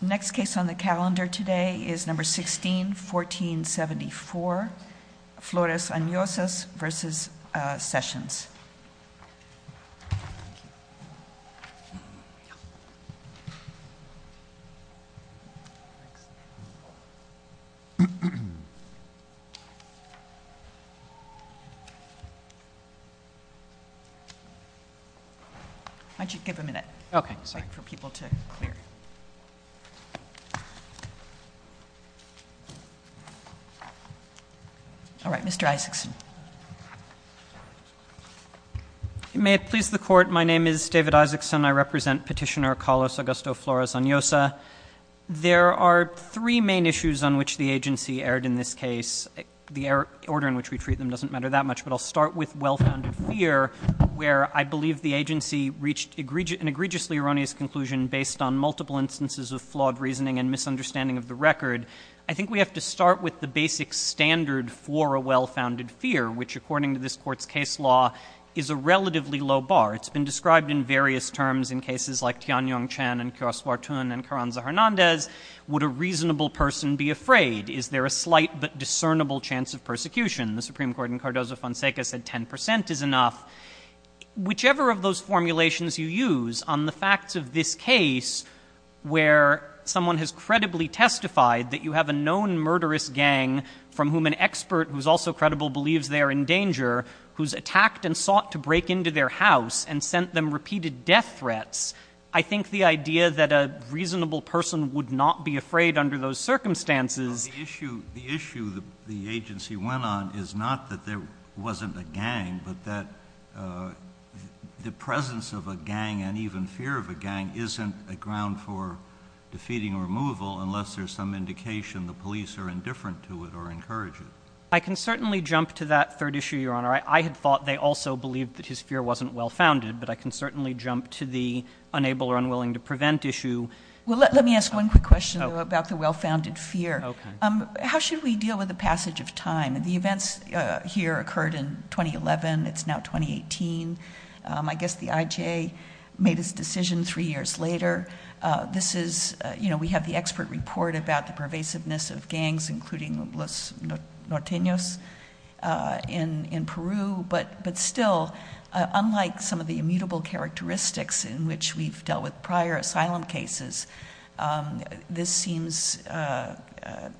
Next case on the calendar today is No. 16, 1474, Flores Anyosas v. Sessions. Why don't you give them a minute for people to clear. All right, Mr. Isaacson. May it please the Court, my name is David Isaacson. I represent Petitioner Carlos Augusto Flores Anyosa. There are three main issues on which the agency erred in this case. The order in which we treat them doesn't matter that much, but I'll start with well-founded fear, where I believe the agency reached an egregiously erroneous conclusion based on multiple instances of flawed reasoning and misunderstanding of the record. I think we have to start with the basic standard for a well-founded fear, which, according to this Court's case law, is a relatively low bar. It's been described in various terms in cases like Tianyong Chen and Cursu Artun and Carranza Hernandez. Would a reasonable person be afraid? Is there a slight but discernible chance of persecution? The Supreme Court in Cardozo-Fonseca said 10 percent is enough. Whichever of those formulations you use on the facts of this case, where someone has credibly testified that you have a known murderous gang, from whom an expert who is also credible believes they are in danger, who has attacked and sought to break into their house and sent them repeated death threats, I think the idea that a reasonable person would not be afraid under those circumstances The issue the agency went on is not that there wasn't a gang, but that the presence of a gang and even fear of a gang isn't a ground for defeating or removal unless there's some indication the police are indifferent to it or encourage it. I can certainly jump to that third issue, Your Honor. I had thought they also believed that his fear wasn't well-founded, but I can certainly jump to the unable or unwilling to prevent issue. Let me ask one quick question about the well-founded fear. How should we deal with the passage of time? The events here occurred in 2011. It's now 2018. I guess the IJA made its decision three years later. We have the expert report about the pervasiveness of gangs, including Los Norteños in Peru, but still, unlike some of the immutable characteristics in which we've dealt with prior asylum cases, this seems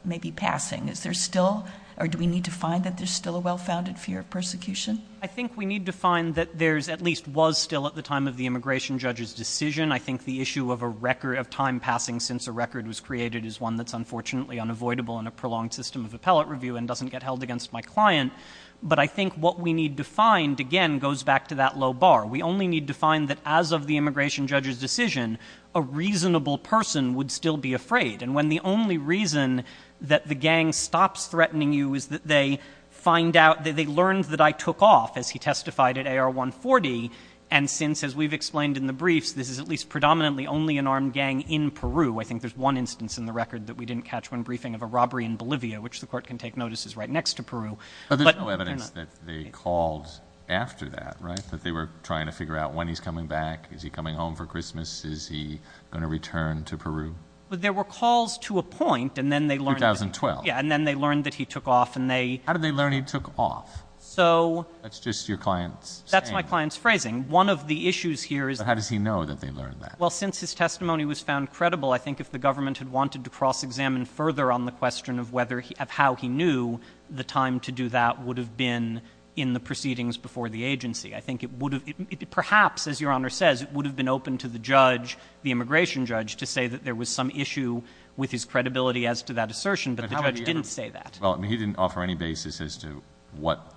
maybe passing. Is there still or do we need to find that there's still a well-founded fear of persecution? I think we need to find that there at least was still at the time of the immigration judge's decision. I think the issue of a record of time passing since a record was created is one that's unfortunately unavoidable in a prolonged system of appellate review and doesn't get held against my client. But I think what we need to find, again, goes back to that low bar. We only need to find that as of the immigration judge's decision, a reasonable person would still be afraid. And when the only reason that the gang stops threatening you is that they find out that they learned that I took off, as he testified at AR 140, and since, as we've explained in the briefs, this is at least predominantly only an armed gang in Peru. I think there's one instance in the record that we didn't catch when briefing of a robbery in Bolivia, which the court can take notices right next to Peru. But there's no evidence that they called after that, right? That they were trying to figure out when he's coming back? Is he coming home for Christmas? Is he going to return to Peru? Well, there were calls to a point, and then they learned that. 2012. Yeah, and then they learned that he took off, and they — How did they learn he took off? So — That's just your client's saying. That's my client's phrasing. One of the issues here is — But how does he know that they learned that? Well, since his testimony was found credible, I think if the government had wanted to cross-examine further on the question of whether — of how he knew the time to do that would have been in the proceedings before the agency, I think it would have — perhaps, as Your Honor says, it would have been open to the judge, the immigration judge, to say that there was some issue with his credibility as to that assertion. But the judge didn't say that. Well, I mean, he didn't offer any basis as to what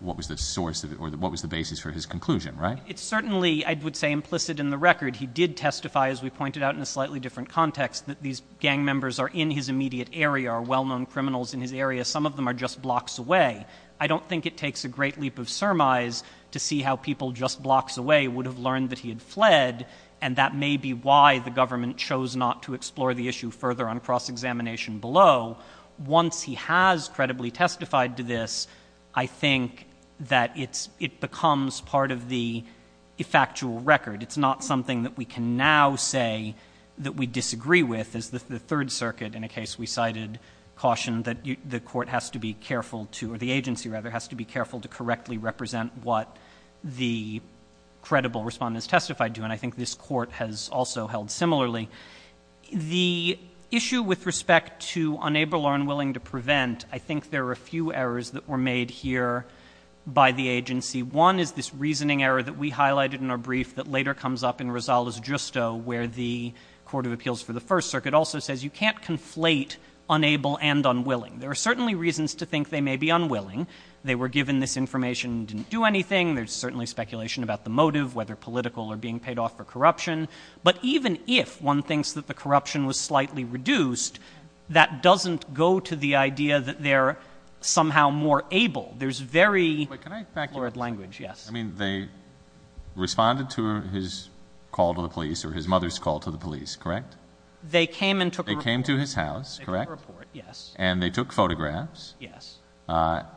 was the source of it, or what was the basis for his conclusion, right? It's certainly, I would say, implicit in the record. He did testify, as we pointed out in a slightly different context, that these gang members are in his immediate area, are well-known criminals in his area. Some of them are just blocks away. I don't think it takes a great leap of surmise to see how people just blocks away would have learned that he had fled, and that may be why the government chose not to explore the issue further on cross-examination below. Once he has credibly testified to this, I think that it becomes part of the factual record. It's not something that we can now say that we disagree with. As the Third Circuit, in a case we cited, cautioned that the court has to be careful to, or the agency, rather, has to be careful to correctly represent what the credible respondent has testified to. And I think this court has also held similarly. The issue with respect to unable or unwilling to prevent, I think there are a few errors that were made here by the agency. One is this reasoning error that we highlighted in our brief that later comes up in Rosales-Justo, where the Court of Appeals for the First Circuit also says you can't conflate unable and unwilling. There are certainly reasons to think they may be unwilling. They were given this information and didn't do anything. There's certainly speculation about the motive, whether political or being paid off for corruption. But even if one thinks that the corruption was slightly reduced, that doesn't go to the idea that they're somehow more able. There's very blurred language. Yes. I mean, they responded to his call to the police, or his mother's call to the police, correct? They came and took a report. They came to his house, correct? They took a report, yes. And they took photographs. Yes.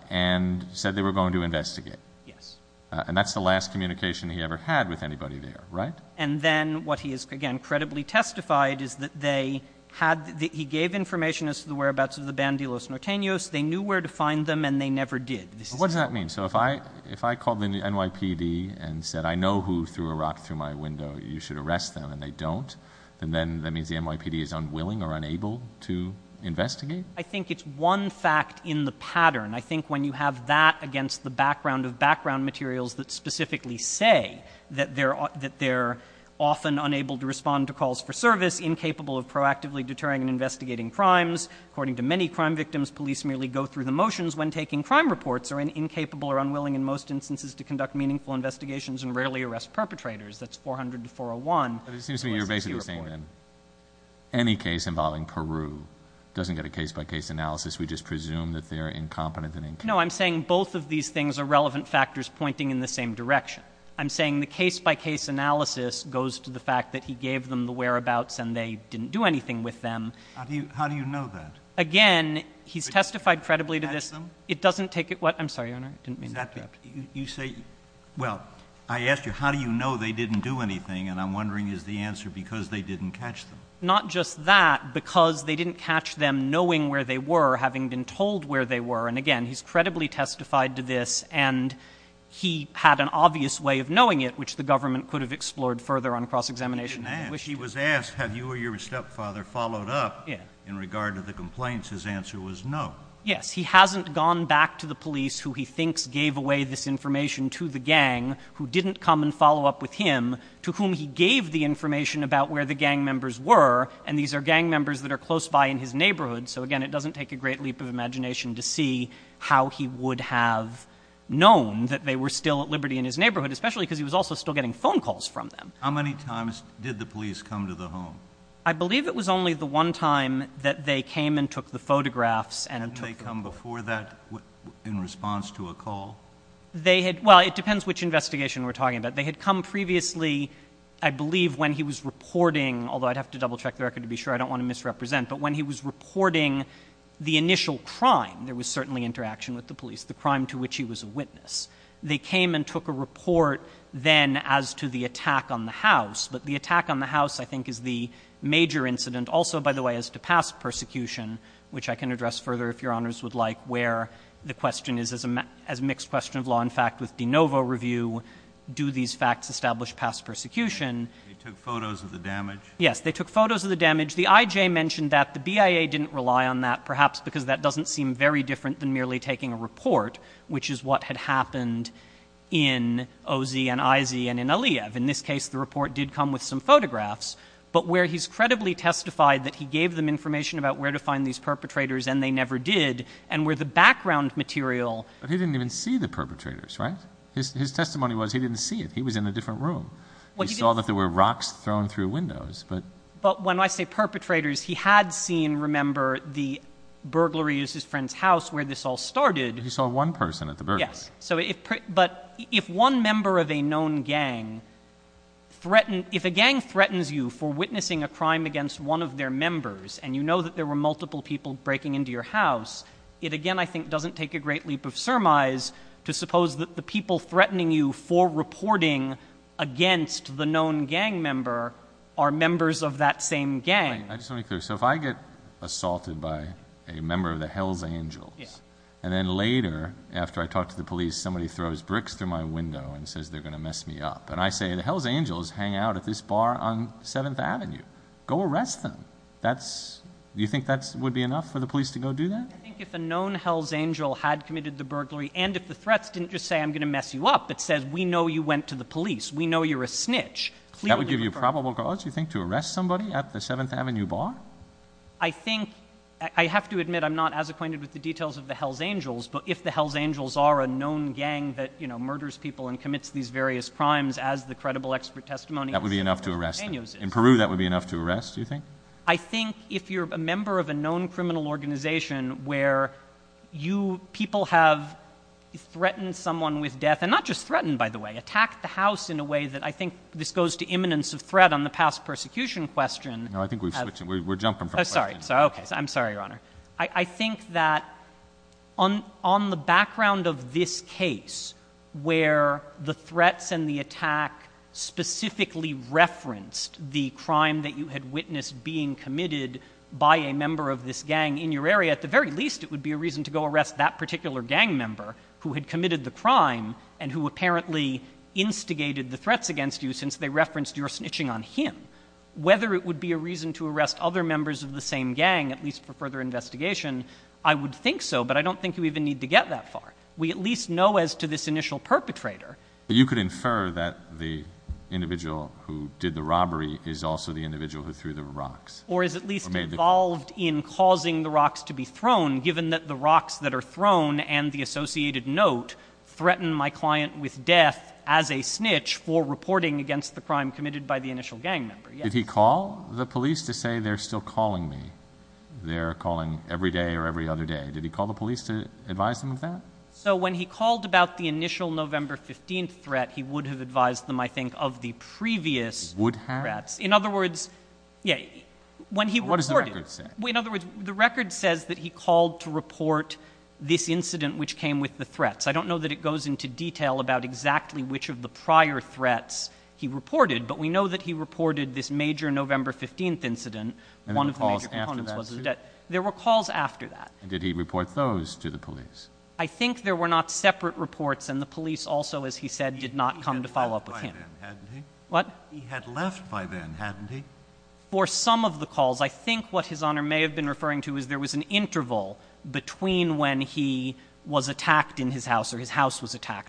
And said they were going to investigate. Yes. And that's the last communication he ever had with anybody there, right? And then what he has, again, credibly testified is that they had, that he gave information as to the whereabouts of the Bandilos Nortenos. They knew where to find them, and they never did. What does that mean? So if I called the NYPD and said, I know who threw a rock through my window. You should arrest them. And they don't. Then that means the NYPD is unwilling or unable to investigate? I think it's one fact in the pattern. I think when you have that against the background of background materials that specifically say that they're often unable to respond to calls for service, incapable of proactively deterring and investigating crimes, according to many crime victims, police merely go through the motions when taking crime reports, are incapable or unwilling in most instances to conduct meaningful investigations, and rarely arrest perpetrators. That's 400 to 401. But it seems to me you're basically saying then any case involving Peru doesn't get a case-by-case analysis. We just presume that they're incompetent and incapable. No, I'm saying both of these things are relevant factors pointing in the same direction. I'm saying the case-by-case analysis goes to the fact that he gave them the whereabouts, and they didn't do anything with them. How do you know that? Again, he's testified credibly to this. Catch them? It doesn't take it. I'm sorry, Your Honor, I didn't mean to interrupt. You say, well, I asked you how do you know they didn't do anything, and I'm wondering is the answer because they didn't catch them? Not just that, because they didn't catch them knowing where they were, having been told where they were. And, again, he's credibly testified to this, and he had an obvious way of knowing it, which the government could have explored further on cross-examination. He was asked have you or your stepfather followed up in regard to the complaints. His answer was no. Yes. He hasn't gone back to the police who he thinks gave away this information to the gang who didn't come and follow up with him, to whom he gave the information about where the gang members were, and these are gang members that are close by in his neighborhood. So, again, it doesn't take a great leap of imagination to see how he would have known that they were still at liberty in his neighborhood, especially because he was also still getting phone calls from them. How many times did the police come to the home? I believe it was only the one time that they came and took the photographs. Hadn't they come before that in response to a call? Well, it depends which investigation we're talking about. They had come previously, I believe, when he was reporting, although I'd have to double-check the record to be sure. I don't want to misrepresent. But when he was reporting the initial crime, there was certainly interaction with the police, the crime to which he was a witness. They came and took a report then as to the attack on the house. But the attack on the house, I think, is the major incident. Also, by the way, as to past persecution, which I can address further if Your Honors would like, where the question is, as a mixed question of law and fact with de novo review, do these facts establish past persecution? They took photos of the damage? Yes. They took photos of the damage. The IJ mentioned that. The BIA didn't rely on that, perhaps because that doesn't seem very different than merely taking a report, which is what had happened in O.Z. and I.Z. and in Aliyev. In this case, the report did come with some photographs. But where he's credibly testified that he gave them information about where to find these perpetrators, and they never did, and where the background material But he didn't even see the perpetrators, right? His testimony was he didn't see it. He was in a different room. He saw that there were rocks thrown through windows. But when I say perpetrators, he had seen, remember, the burglaries, his friend's friend, and he saw this all started. He saw one person at the burglary. Yes. But if one member of a known gang threatened, if a gang threatens you for witnessing a crime against one of their members, and you know that there were multiple people breaking into your house, it again, I think, doesn't take a great leap of surmise to suppose that the people threatening you for reporting against the known gang member are members of that same gang. I just want to be clear. So if I get assaulted by a member of the Hells Angels, and then later, after I talk to the police, somebody throws bricks through my window and says they're going to mess me up, and I say the Hells Angels hang out at this bar on 7th Avenue, go arrest them. Do you think that would be enough for the police to go do that? I think if a known Hells Angel had committed the burglary, and if the threats didn't just say, I'm going to mess you up, but says, we know you went to the police, we know you're a snitch. That would give you probable cause, you think, to arrest somebody at the 7th Avenue bar? I think, I have to admit I'm not as acquainted with the details of the Hells Angels, but if the Hells Angels are a known gang that murders people and commits these various crimes as the credible expert testimony is. That would be enough to arrest them. In Peru, that would be enough to arrest, do you think? I think if you're a member of a known criminal organization where people have threatened someone with death, and not just threatened, by the way, attacked the house in a way that I think this goes to imminence of threat on the past persecution question. No, I think we're switching. We're jumping from question to question. Sorry. Okay. I'm sorry, Your Honor. I think that on the background of this case, where the threats and the attack specifically referenced the crime that you had witnessed being committed by a member of this gang in your area, at the very least it would be a reason to go arrest that person who instigated the threats against you since they referenced your snitching on him. Whether it would be a reason to arrest other members of the same gang, at least for further investigation, I would think so, but I don't think you even need to get that far. We at least know as to this initial perpetrator. You could infer that the individual who did the robbery is also the individual who threw the rocks. Or is at least involved in causing the rocks to be thrown, given that the rocks that are for reporting against the crime committed by the initial gang member. Did he call the police to say they're still calling me? They're calling every day or every other day. Did he call the police to advise them of that? So when he called about the initial November 15th threat, he would have advised them, I think, of the previous threats. Would have? In other words, yeah, when he reported it. What does the record say? In other words, the record says that he called to report this incident which came with the threats. I don't know that it goes into detail about exactly which of the prior threats he reported, but we know that he reported this major November 15th incident. And there were calls after that too? There were calls after that. And did he report those to the police? I think there were not separate reports, and the police also, as he said, did not come to follow up with him. He had left by then, hadn't he? What? He had left by then, hadn't he? For some of the calls, I think what His Honor may have been referring to is there was an was attacked,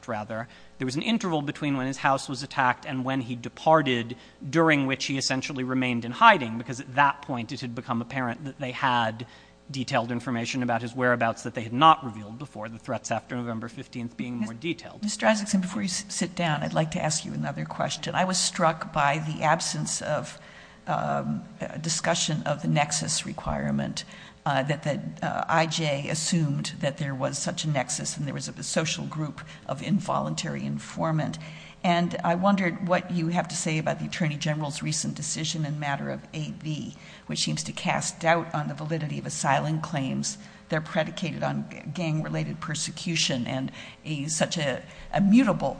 rather. There was an interval between when his house was attacked and when he departed, during which he essentially remained in hiding, because at that point it had become apparent that they had detailed information about his whereabouts that they had not revealed before, the threats after November 15th being more detailed. Mr. Isaacson, before you sit down, I'd like to ask you another question. I was struck by the absence of discussion of the nexus requirement, that the IJ assumed that there was such a nexus and there was a social group of involuntary informant. And I wondered what you have to say about the Attorney General's recent decision in matter of AV, which seems to cast doubt on the validity of asylum claims. They're predicated on gang-related persecution and such a mutable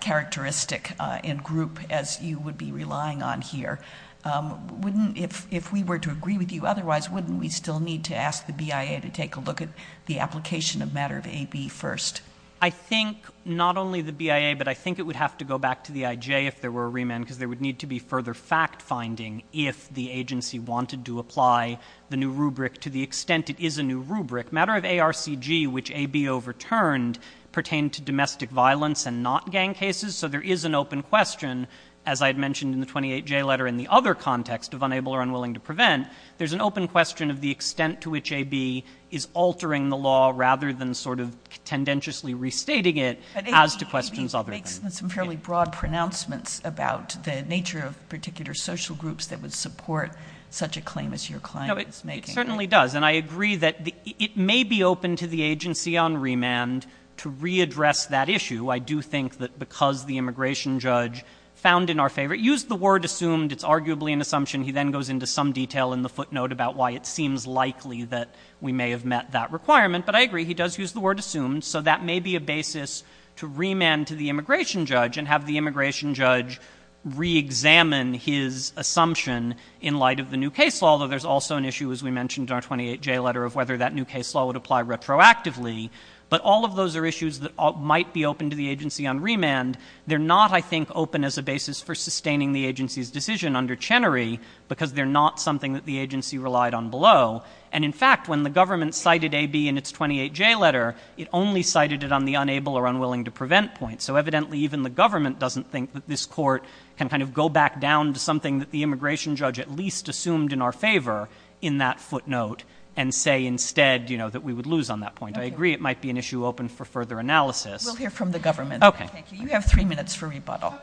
characteristic in group as you would be relying on here. If we were to agree with you otherwise, wouldn't we still need to ask the BIA to take a look at the application of matter of AB first? I think not only the BIA, but I think it would have to go back to the IJ if there were a remand, because there would need to be further fact-finding if the agency wanted to apply the new rubric to the extent it is a new rubric. Matter of ARCG, which AB overturned, pertained to domestic violence and not gang cases. So there is an open question, as I had mentioned in the 28J letter in the other context of unable or unwilling to prevent, there's an open question of the extent to which AB is altering the law rather than sort of tendentiously restating it as to questions other than that. But AB makes some fairly broad pronouncements about the nature of particular social groups that would support such a claim as your client is making. No, it certainly does. And I agree that it may be open to the agency on remand to readdress that issue. I do think that because the immigration judge found in our favor, used the word assumed, it's arguably an assumption. He then goes into some detail in the footnote about why it seems likely that we may have met that requirement. But I agree. He does use the word assumed. So that may be a basis to remand to the immigration judge and have the immigration judge reexamine his assumption in light of the new case law, although there's also an issue, as we mentioned in our 28J letter, of whether that new case law would apply retroactively. But all of those are issues that might be open to the agency on remand. They're not, I think, open as a basis for sustaining the agency's decision under Chenery because they're not something that the agency relied on below. And in fact, when the government cited AB in its 28J letter, it only cited it on the unable or unwilling to prevent point. So evidently even the government doesn't think that this court can kind of go back down to something that the immigration judge at least assumed in our favor in that footnote and say instead, you know, that we would lose on that point. I agree it might be an issue open for further analysis. We'll hear from the government. Okay. Thank you. You have three minutes for rebuttal.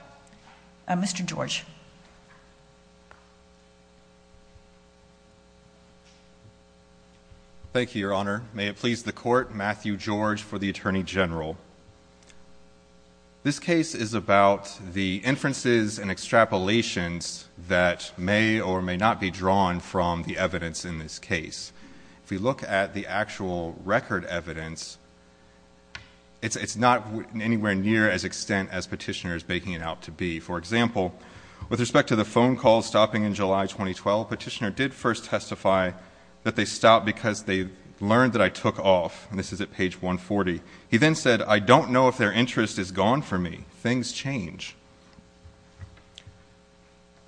Mr. George. Thank you, Your Honor. May it please the court, Matthew George for the Attorney General. This case is about the inferences and extrapolations that may or may not be drawn from the evidence in this case. If we look at the actual record evidence, it's not anywhere near as extent as Petitioner is baking it out to be. For example, with respect to the phone call stopping in July 2012, Petitioner did first testify that they stopped because they learned that I took off. And this is at page 140. He then said, I don't know if their interest is gone for me. Things change.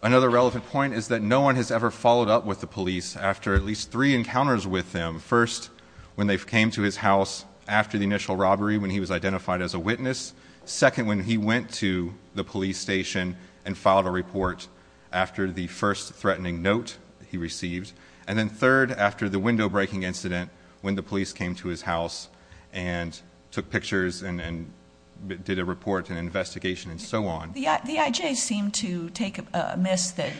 Another relevant point is that no one has ever followed up with the police after at least three encounters with them. First, when they came to his house after the initial robbery when he was identified as a witness. Second, when he went to the police station and filed a report after the first threatening note he received. And then third, after the window breaking incident when the police came to his house and took pictures and did a report and investigation and so on. The IJ seemed to take amiss that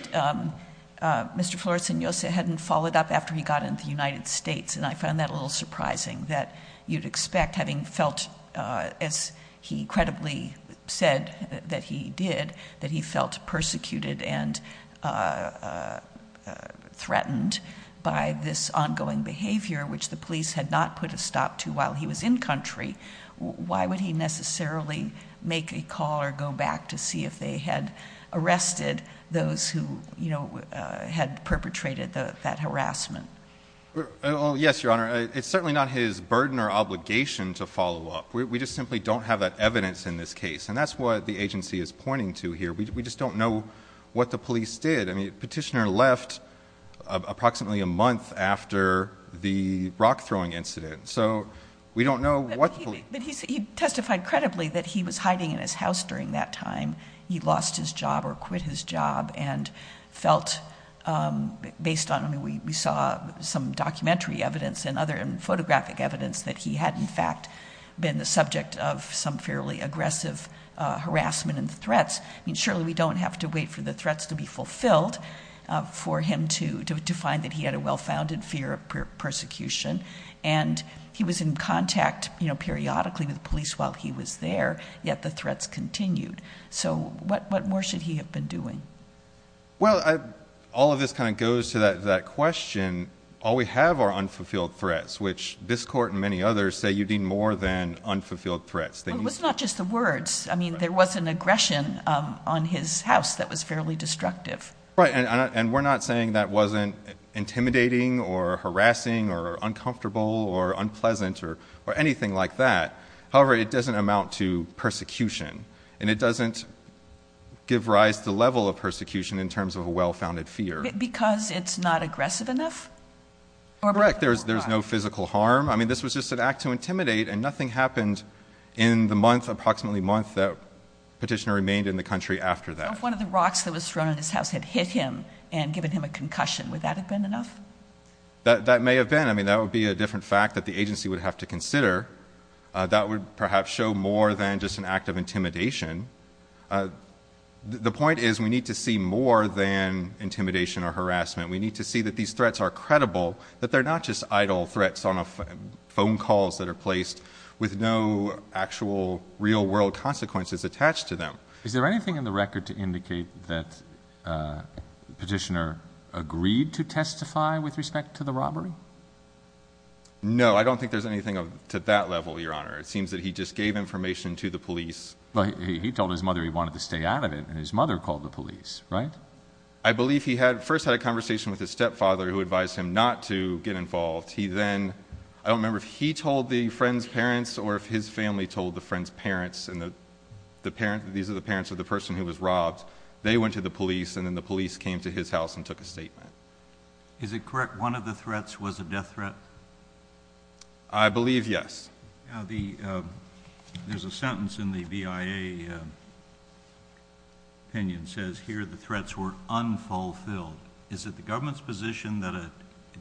Mr. Flores-Segnosa hadn't followed up after he got into the United States. And I found that a little surprising that you'd expect having felt, as he credibly said that he did, that he felt persecuted and threatened by this ongoing behavior which the police had not put a stop to while he was in country. Why would he necessarily make a call or go back to see if they had arrested those who had perpetrated that harassment? Yes, Your Honor. It's certainly not his burden or obligation to follow up. We just simply don't have that evidence in this case. And that's what the agency is pointing to here. We just don't know what the police did. Petitioner left approximately a month after the rock throwing incident. So we don't know what the police did. But he testified credibly that he was hiding in his house during that time. He lost his job or quit his job and felt, based on, I mean, we saw some documentary evidence and other photographic evidence that he had, in fact, been the subject of some fairly aggressive harassment and threats. Surely we don't have to wait for the threats to be fulfilled for him to find that he had a well-founded fear of persecution. And he was in contact, you know, periodically with the police while he was there, yet the threats continued. So what more should he have been doing? Well, all of this kind of goes to that question. All we have are unfulfilled threats, which this court and many others say you need more than unfulfilled threats. It was not just the words. I mean, there was an aggression on his house that was fairly destructive. Right. And we're not saying that wasn't intimidating or harassing or uncomfortable or unpleasant or anything like that. However, it doesn't amount to persecution, and it doesn't give rise to the level of persecution in terms of a well-founded fear. Because it's not aggressive enough? Correct. There's no physical harm. I mean, this was just an act to intimidate, and nothing happened in the month, approximately a month, that Petitioner remained in the country after that. What if one of the rocks that was thrown on his house had hit him and given him a concussion? Would that have been enough? That may have been. I mean, that would be a different fact that the agency would have to consider. That would perhaps show more than just an act of intimidation. The point is we need to see more than intimidation or harassment. We need to see that these threats are credible, that they're not just idle threats on phone calls that are placed with no actual real-world consequences attached to them. Is there anything in the record to indicate that Petitioner agreed to testify with respect to the robbery? No. I don't think there's anything to that level, Your Honor. It seems that he just gave information to the police. Well, he told his mother he wanted to stay out of it, and his mother called the police, right? I believe he first had a conversation with his stepfather, who advised him not to get involved. I don't remember if he told the friend's parents or if his family told the friend's parents. These are the parents of the person who was robbed. They went to the police, and then the police came to his house and took a statement. Is it correct one of the threats was a death threat? I believe yes. There's a sentence in the BIA opinion that says, here the threats were unfulfilled. Is it the government's position that a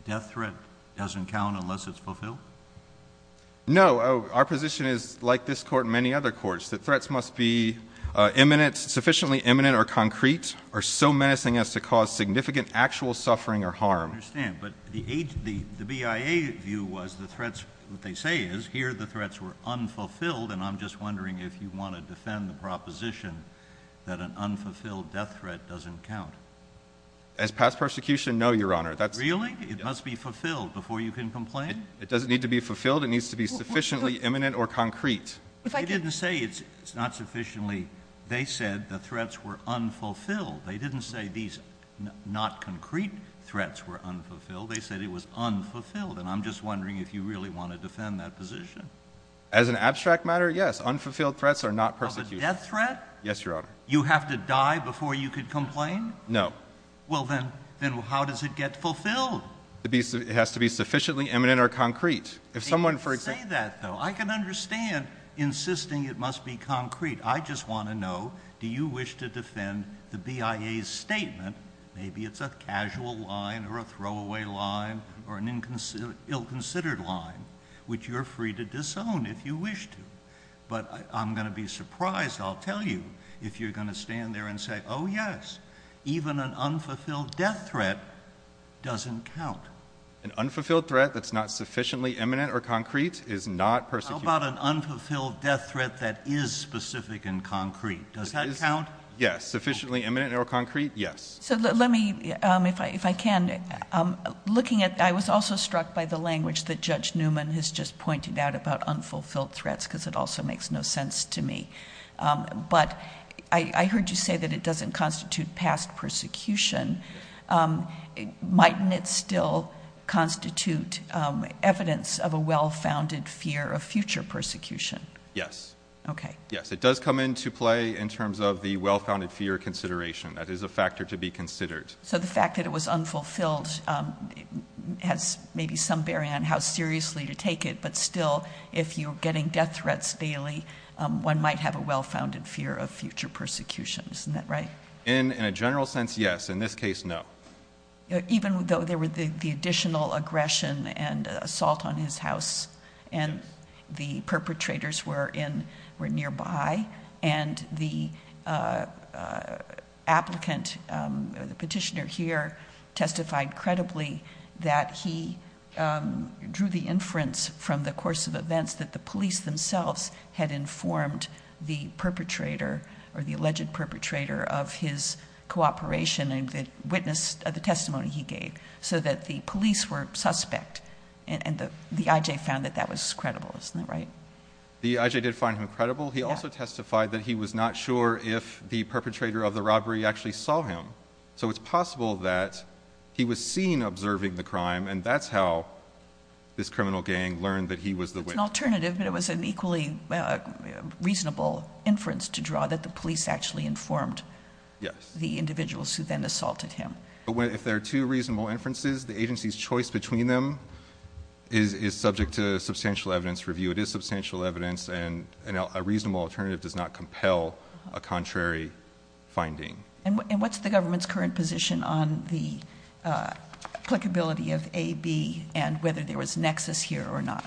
death threat doesn't count unless it's fulfilled? No. Our position is, like this court and many other courts, that threats must be sufficiently imminent or concrete or so menacing as to cause significant actual suffering or harm. I understand. But the BIA view was the threats, what they say is, here the threats were unfulfilled, and I'm just wondering if you want to defend the proposition that an unfulfilled death threat doesn't count. As past persecution, no, Your Honor. Really? It must be fulfilled before you can complain? It doesn't need to be fulfilled. It needs to be sufficiently imminent or concrete. They didn't say it's not sufficiently. They said the threats were unfulfilled. They didn't say these not concrete threats were unfulfilled. They said it was unfulfilled, and I'm just wondering if you really want to defend that position. As an abstract matter, yes, unfulfilled threats are not persecution. Of a death threat? Yes, Your Honor. You have to die before you can complain? No. Well, then how does it get fulfilled? It has to be sufficiently imminent or concrete. They didn't say that, though. I can understand insisting it must be concrete. I just want to know, do you wish to defend the BIA's statement, maybe it's a casual line or a throwaway line or an ill-considered line, which you're free to disown if you wish to. But I'm going to be surprised, I'll tell you, if you're going to stand there and say, oh, yes, even an unfulfilled death threat doesn't count. An unfulfilled threat that's not sufficiently imminent or concrete is not persecution. How about an unfulfilled death threat that is specific and concrete? Does that count? Yes, sufficiently imminent or concrete, yes. So let me, if I can, looking at, I was also struck by the language that Judge Newman has just pointed out about unfulfilled threats because it also makes no sense to me. But I heard you say that it doesn't constitute past persecution. Mightn't it still constitute evidence of a well-founded fear of future persecution? Yes. Okay. Yes, it does come into play in terms of the well-founded fear consideration. That is a factor to be considered. So the fact that it was unfulfilled has maybe some bearing on how seriously to take it, but still, if you're getting death threats daily, one might have a well-founded fear of future persecution. Isn't that right? In a general sense, yes. In this case, no. Even though there were the additional aggression and assault on his house and the perpetrators were nearby and the applicant, the petitioner here, testified credibly that he drew the inference from the course of events that the police themselves had informed the perpetrator or the alleged perpetrator of his cooperation and witnessed the testimony he gave so that the police were suspect and the I.J. found that that was credible. Isn't that right? The I.J. did find him credible. He also testified that he was not sure if the perpetrator of the robbery actually saw him. So it's possible that he was seen observing the crime and that's how this criminal gang learned that he was the witness. It was an alternative, but it was an equally reasonable inference to draw that the police actually informed the individuals who then assaulted him. If there are two reasonable inferences, the agency's choice between them is subject to substantial evidence review. It is substantial evidence, and a reasonable alternative does not compel a contrary finding. And what's the government's current position on the applicability of A, B, and whether there was nexus here or not?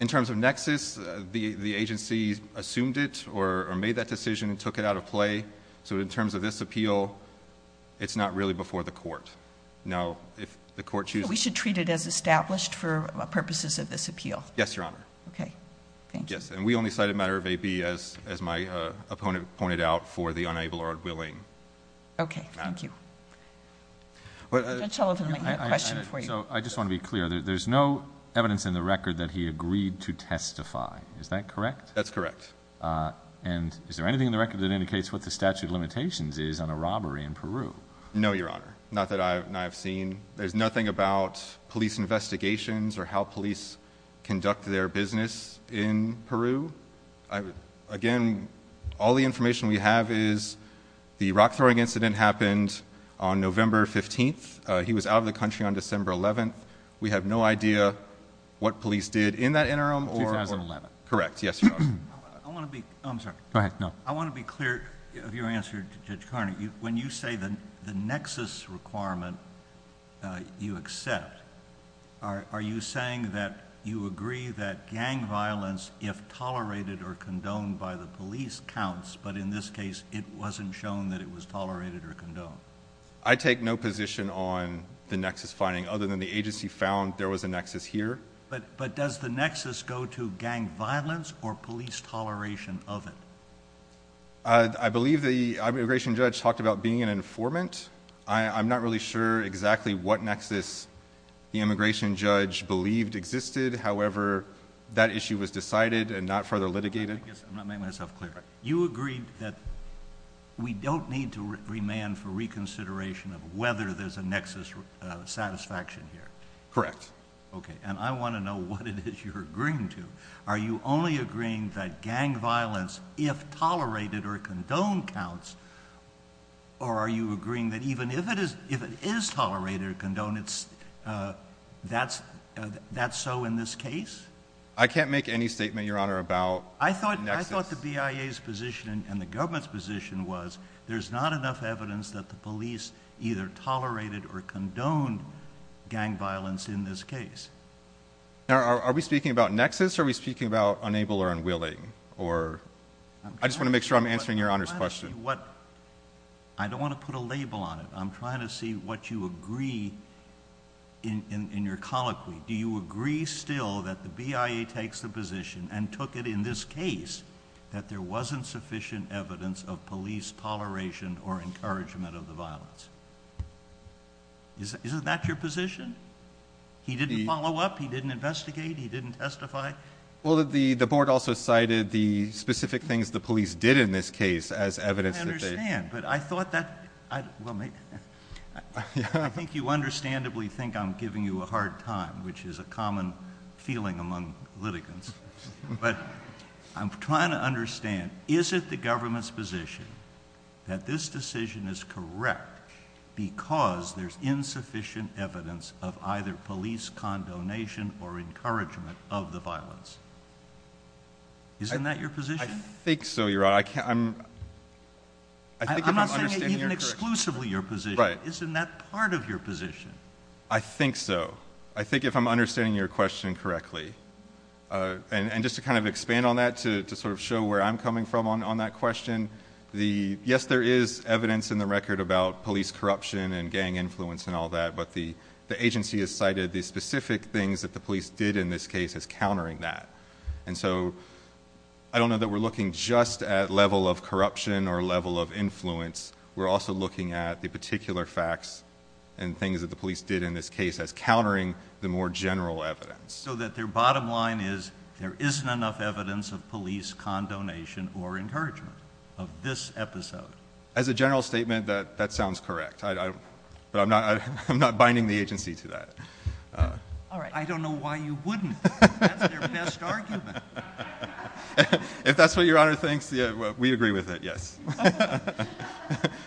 In terms of nexus, the agency assumed it or made that decision and took it out of play. So in terms of this appeal, it's not really before the court. Now, if the court chooses— So we should treat it as established for purposes of this appeal? Yes, Your Honor. Okay, thank you. Yes, and we only cited a matter of A, B, as my opponent pointed out, for the unable or unwilling matter. Okay, thank you. Judge Sullivan, I have a question for you. So I just want to be clear. There's no evidence in the record that he agreed to testify. Is that correct? That's correct. And is there anything in the record that indicates what the statute of limitations is on a robbery in Peru? No, Your Honor. Not that I have seen. There's nothing about police investigations or how police conduct their business in Peru. Again, all the information we have is the rock-throwing incident happened on November 15th. He was out of the country on December 11th. We have no idea what police did in that interim or— 2011. Correct. Yes, Your Honor. I want to be—I'm sorry. Go ahead. No. I want to be clear of your answer, Judge Carney. When you say the nexus requirement you accept, are you saying that you agree that gang violence, if tolerated or condoned by the police, counts, but in this case it wasn't shown that it was tolerated or condoned? I take no position on the nexus finding other than the agency found there was a nexus here. But does the nexus go to gang violence or police toleration of it? I believe the immigration judge talked about being an informant. I'm not really sure exactly what nexus the immigration judge believed existed. However, that issue was decided and not further litigated. I guess I'm not making myself clear. You agreed that we don't need to remand for reconsideration of whether there's a nexus satisfaction here. Correct. Okay. And I want to know what it is you're agreeing to. Are you only agreeing that gang violence, if tolerated or condoned, counts, or are you agreeing that even if it is tolerated or condoned, that's so in this case? I can't make any statement, Your Honor, about nexus. I thought the BIA's position and the government's position was there's not enough evidence that the police either tolerated or condoned gang violence in this case. Now, are we speaking about nexus or are we speaking about unable or unwilling? I just want to make sure I'm answering Your Honor's question. I don't want to put a label on it. I'm trying to see what you agree in your colloquy. Do you agree still that the BIA takes the position and took it in this case that there wasn't sufficient evidence of police toleration or encouragement of the violence? Isn't that your position? He didn't follow up, he didn't investigate, he didn't testify? Well, the board also cited the specific things the police did in this case as evidence. I think you understandably think I'm giving you a hard time, which is a common feeling among litigants. But I'm trying to understand, is it the government's position that this decision is correct because there's insufficient evidence of either police condonation or encouragement of the violence? Isn't that your position? I think so, Your Honor. I'm not saying even exclusively your position. Isn't that part of your position? I think so. I think if I'm understanding your question correctly. And just to kind of expand on that to sort of show where I'm coming from on that question, yes, there is evidence in the record about police corruption and gang influence and all that, but the agency has cited the specific things that the police did in this case as countering that. And so I don't know that we're looking just at level of corruption or level of influence. We're also looking at the particular facts and things that the police did in this case as countering the more general evidence. So that their bottom line is there isn't enough evidence of police condonation or encouragement of this episode? As a general statement, that sounds correct. But I'm not binding the agency to that. All right. I don't know why you wouldn't. That's their best argument. If that's what Your Honor thinks, we agree with it, yes.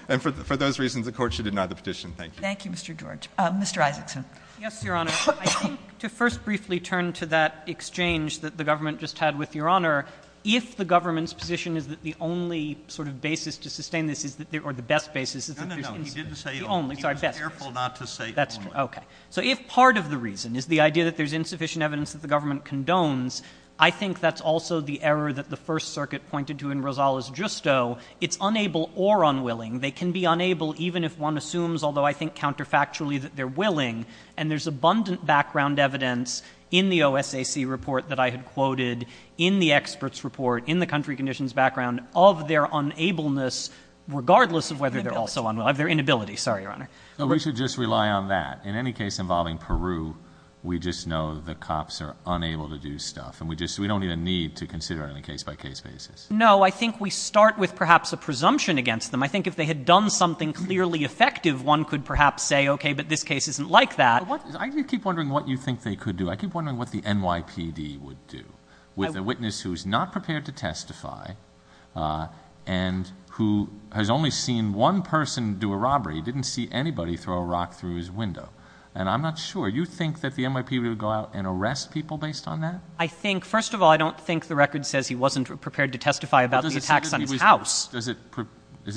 And for those reasons, the Court should deny the petition. Thank you. Thank you, Mr. George. Mr. Isaacson. Yes, Your Honor. I think to first briefly turn to that exchange that the government just had with Your Honor, if the government's position is that the only sort of basis to sustain this is that there are the best basis is that there's insufficient. No, no, no. He didn't say only. He was careful not to say only. That's true. Okay. So if part of the reason is the idea that there's insufficient evidence that the government condones, I think that's also the error that the First Circuit pointed to in Rosales-Justo. It's unable or unwilling. They can be unable even if one assumes, although I think counterfactually, that they're willing. And there's abundant background evidence in the OSAC report that I had quoted, in the experts' report, in the country conditions background of their unableness, regardless of whether they're also unwilling, of their inability. Sorry, Your Honor. No, we should just rely on that. In any case involving Peru, we just know the cops are unable to do stuff, and we don't even need to consider it on a case-by-case basis. No, I think we start with perhaps a presumption against them. I think if they had done something clearly effective, one could perhaps say, okay, but this case isn't like that. I keep wondering what you think they could do. I keep wondering what the NYPD would do with a witness who is not prepared to testify and who has only seen one person do a robbery, didn't see anybody throw a rock through his window. And I'm not sure. You think that the NYPD would go out and arrest people based on that? I think, first of all, I don't think the record says he wasn't prepared to testify about the attacks on his house. Does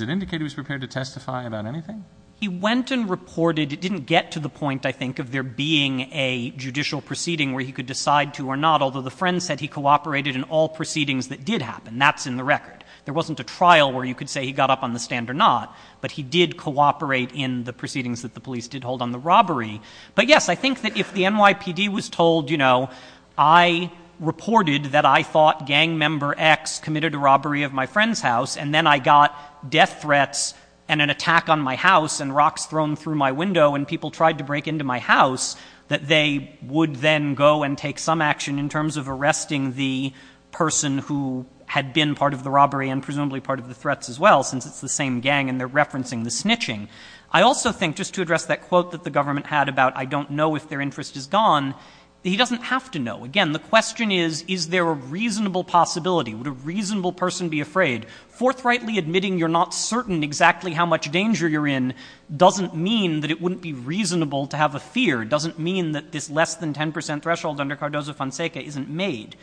it indicate he was prepared to testify about anything? He went and reported. It didn't get to the point, I think, of there being a judicial proceeding where he could decide to or not, although the friend said he cooperated in all proceedings that did happen. And that's in the record. There wasn't a trial where you could say he got up on the stand or not. But he did cooperate in the proceedings that the police did hold on the robbery. But, yes, I think that if the NYPD was told, you know, I reported that I thought gang member X committed a robbery of my friend's house and then I got death threats and an attack on my house and rocks thrown through my window and people tried to break into my house, that they would then go and take some action in terms of arresting the person who had been part of the robbery and presumably part of the threats as well, since it's the same gang and they're referencing the snitching. I also think, just to address that quote that the government had about I don't know if their interest is gone, he doesn't have to know. Again, the question is, is there a reasonable possibility? Would a reasonable person be afraid? Forthrightly admitting you're not certain exactly how much danger you're in doesn't mean that it wouldn't be reasonable to have a fear. It doesn't mean that this less than 10 percent threshold under Cardozo-Fonseca isn't made.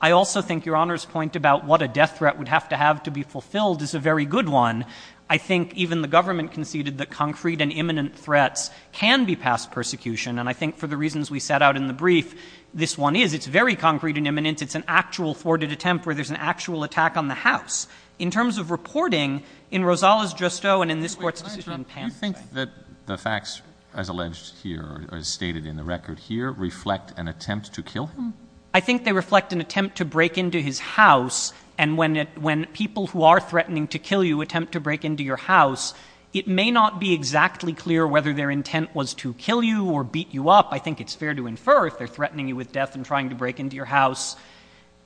I also think Your Honor's point about what a death threat would have to have to be fulfilled is a very good one. I think even the government conceded that concrete and imminent threats can be past persecution. And I think for the reasons we set out in the brief, this one is. It's very concrete and imminent. It's an actual thwarted attempt where there's an actual attack on the house. In terms of reporting, in Rosales-Giusto and in this Court's decision in Pamphlet— reflect an attempt to kill him? I think they reflect an attempt to break into his house. And when people who are threatening to kill you attempt to break into your house, it may not be exactly clear whether their intent was to kill you or beat you up. I think it's fair to infer if they're threatening you with death and trying to break into your house,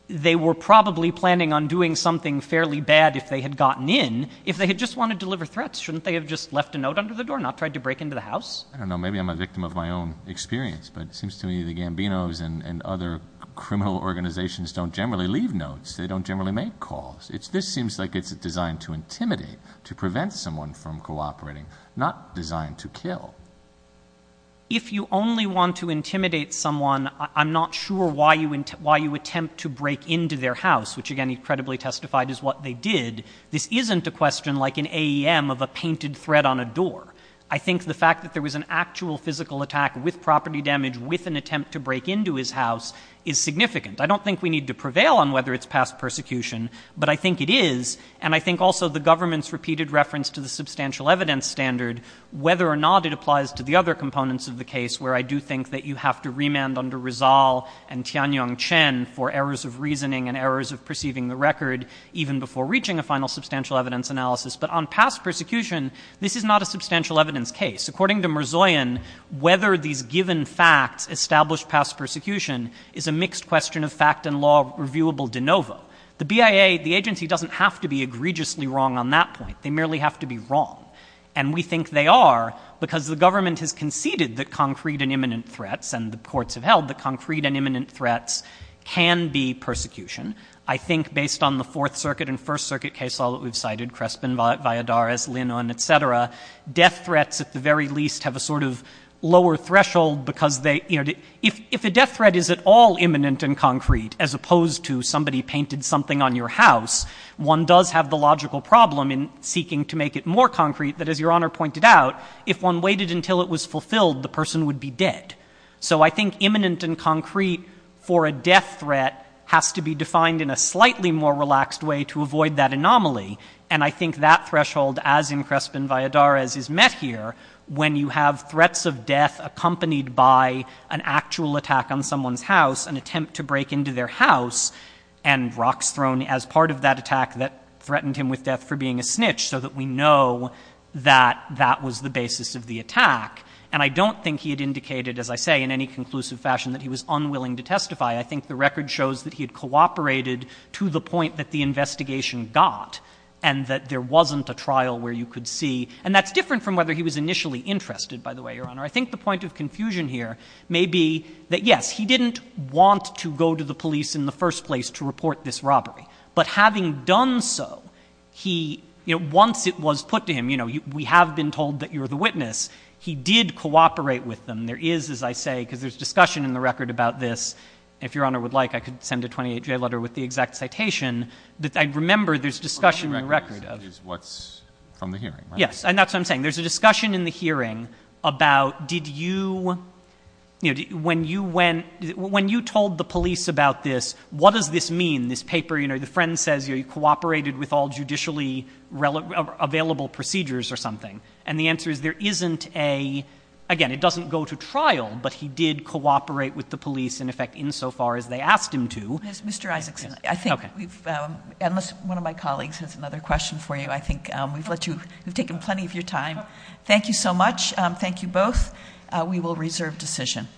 they were probably planning on doing something fairly bad if they had gotten in, if they had just wanted to deliver threats. Shouldn't they have just left a note under the door and not tried to break into the house? I don't know. Maybe I'm a victim of my own experience. But it seems to me the Gambinos and other criminal organizations don't generally leave notes. They don't generally make calls. This seems like it's designed to intimidate, to prevent someone from cooperating, not designed to kill. If you only want to intimidate someone, I'm not sure why you attempt to break into their house, which, again, he credibly testified is what they did. This isn't a question like an AEM of a painted threat on a door. I think the fact that there was an actual physical attack with property damage, with an attempt to break into his house, is significant. I don't think we need to prevail on whether it's past persecution, but I think it is. And I think also the government's repeated reference to the substantial evidence standard, whether or not it applies to the other components of the case, where I do think that you have to remand under Rizal and Tianyong Chen for errors of reasoning and errors of perceiving the record even before reaching a final substantial evidence analysis. But on past persecution, this is not a substantial evidence case. According to Merzoyan, whether these given facts establish past persecution is a mixed question of fact and law reviewable de novo. The BIA, the agency, doesn't have to be egregiously wrong on that point. They merely have to be wrong. And we think they are because the government has conceded that concrete and imminent threats, and the courts have held that concrete and imminent threats can be persecution. I think based on the Fourth Circuit and First Circuit case law that we've cited, Crespin, Valladares, Lin, et cetera, death threats at the very least have a sort of lower threshold because they, you know, if a death threat is at all imminent and concrete, as opposed to somebody painted something on your house, one does have the logical problem in seeking to make it more concrete, that as Your Honor pointed out, if one waited until it was fulfilled, the person would be dead. So I think imminent and concrete for a death threat has to be defined in a slightly more relaxed way to avoid that anomaly. And I think that threshold, as in Crespin, Valladares, is met here when you have threats of death accompanied by an actual attack on someone's house, an attempt to break into their house, and rocks thrown as part of that attack that threatened him with death for being a snitch, so that we know that that was the basis of the attack. And I don't think he had indicated, as I say, in any conclusive fashion, that he was unwilling to testify. I think the record shows that he had cooperated to the point that the investigation got and that there wasn't a trial where you could see. And that's different from whether he was initially interested, by the way, Your Honor. I think the point of confusion here may be that, yes, he didn't want to go to the police in the first place to report this robbery. But having done so, he, you know, once it was put to him, you know, we have been told that you're the witness. He did cooperate with them. There is, as I say, because there's discussion in the record about this. If Your Honor would like, I could send a 28-day letter with the exact citation. But I remember there's discussion in the record of it. The record is what's from the hearing, right? Yes, and that's what I'm saying. There's a discussion in the hearing about did you, you know, when you went, when you told the police about this, what does this mean? This paper, you know, the friend says, you know, available procedures or something. And the answer is there isn't a, again, it doesn't go to trial, but he did cooperate with the police in effect insofar as they asked him to. Mr. Isaacson, I think we've, unless one of my colleagues has another question for you, I think we've let you, we've taken plenty of your time. Thank you so much. Thank you both. We will reserve decision.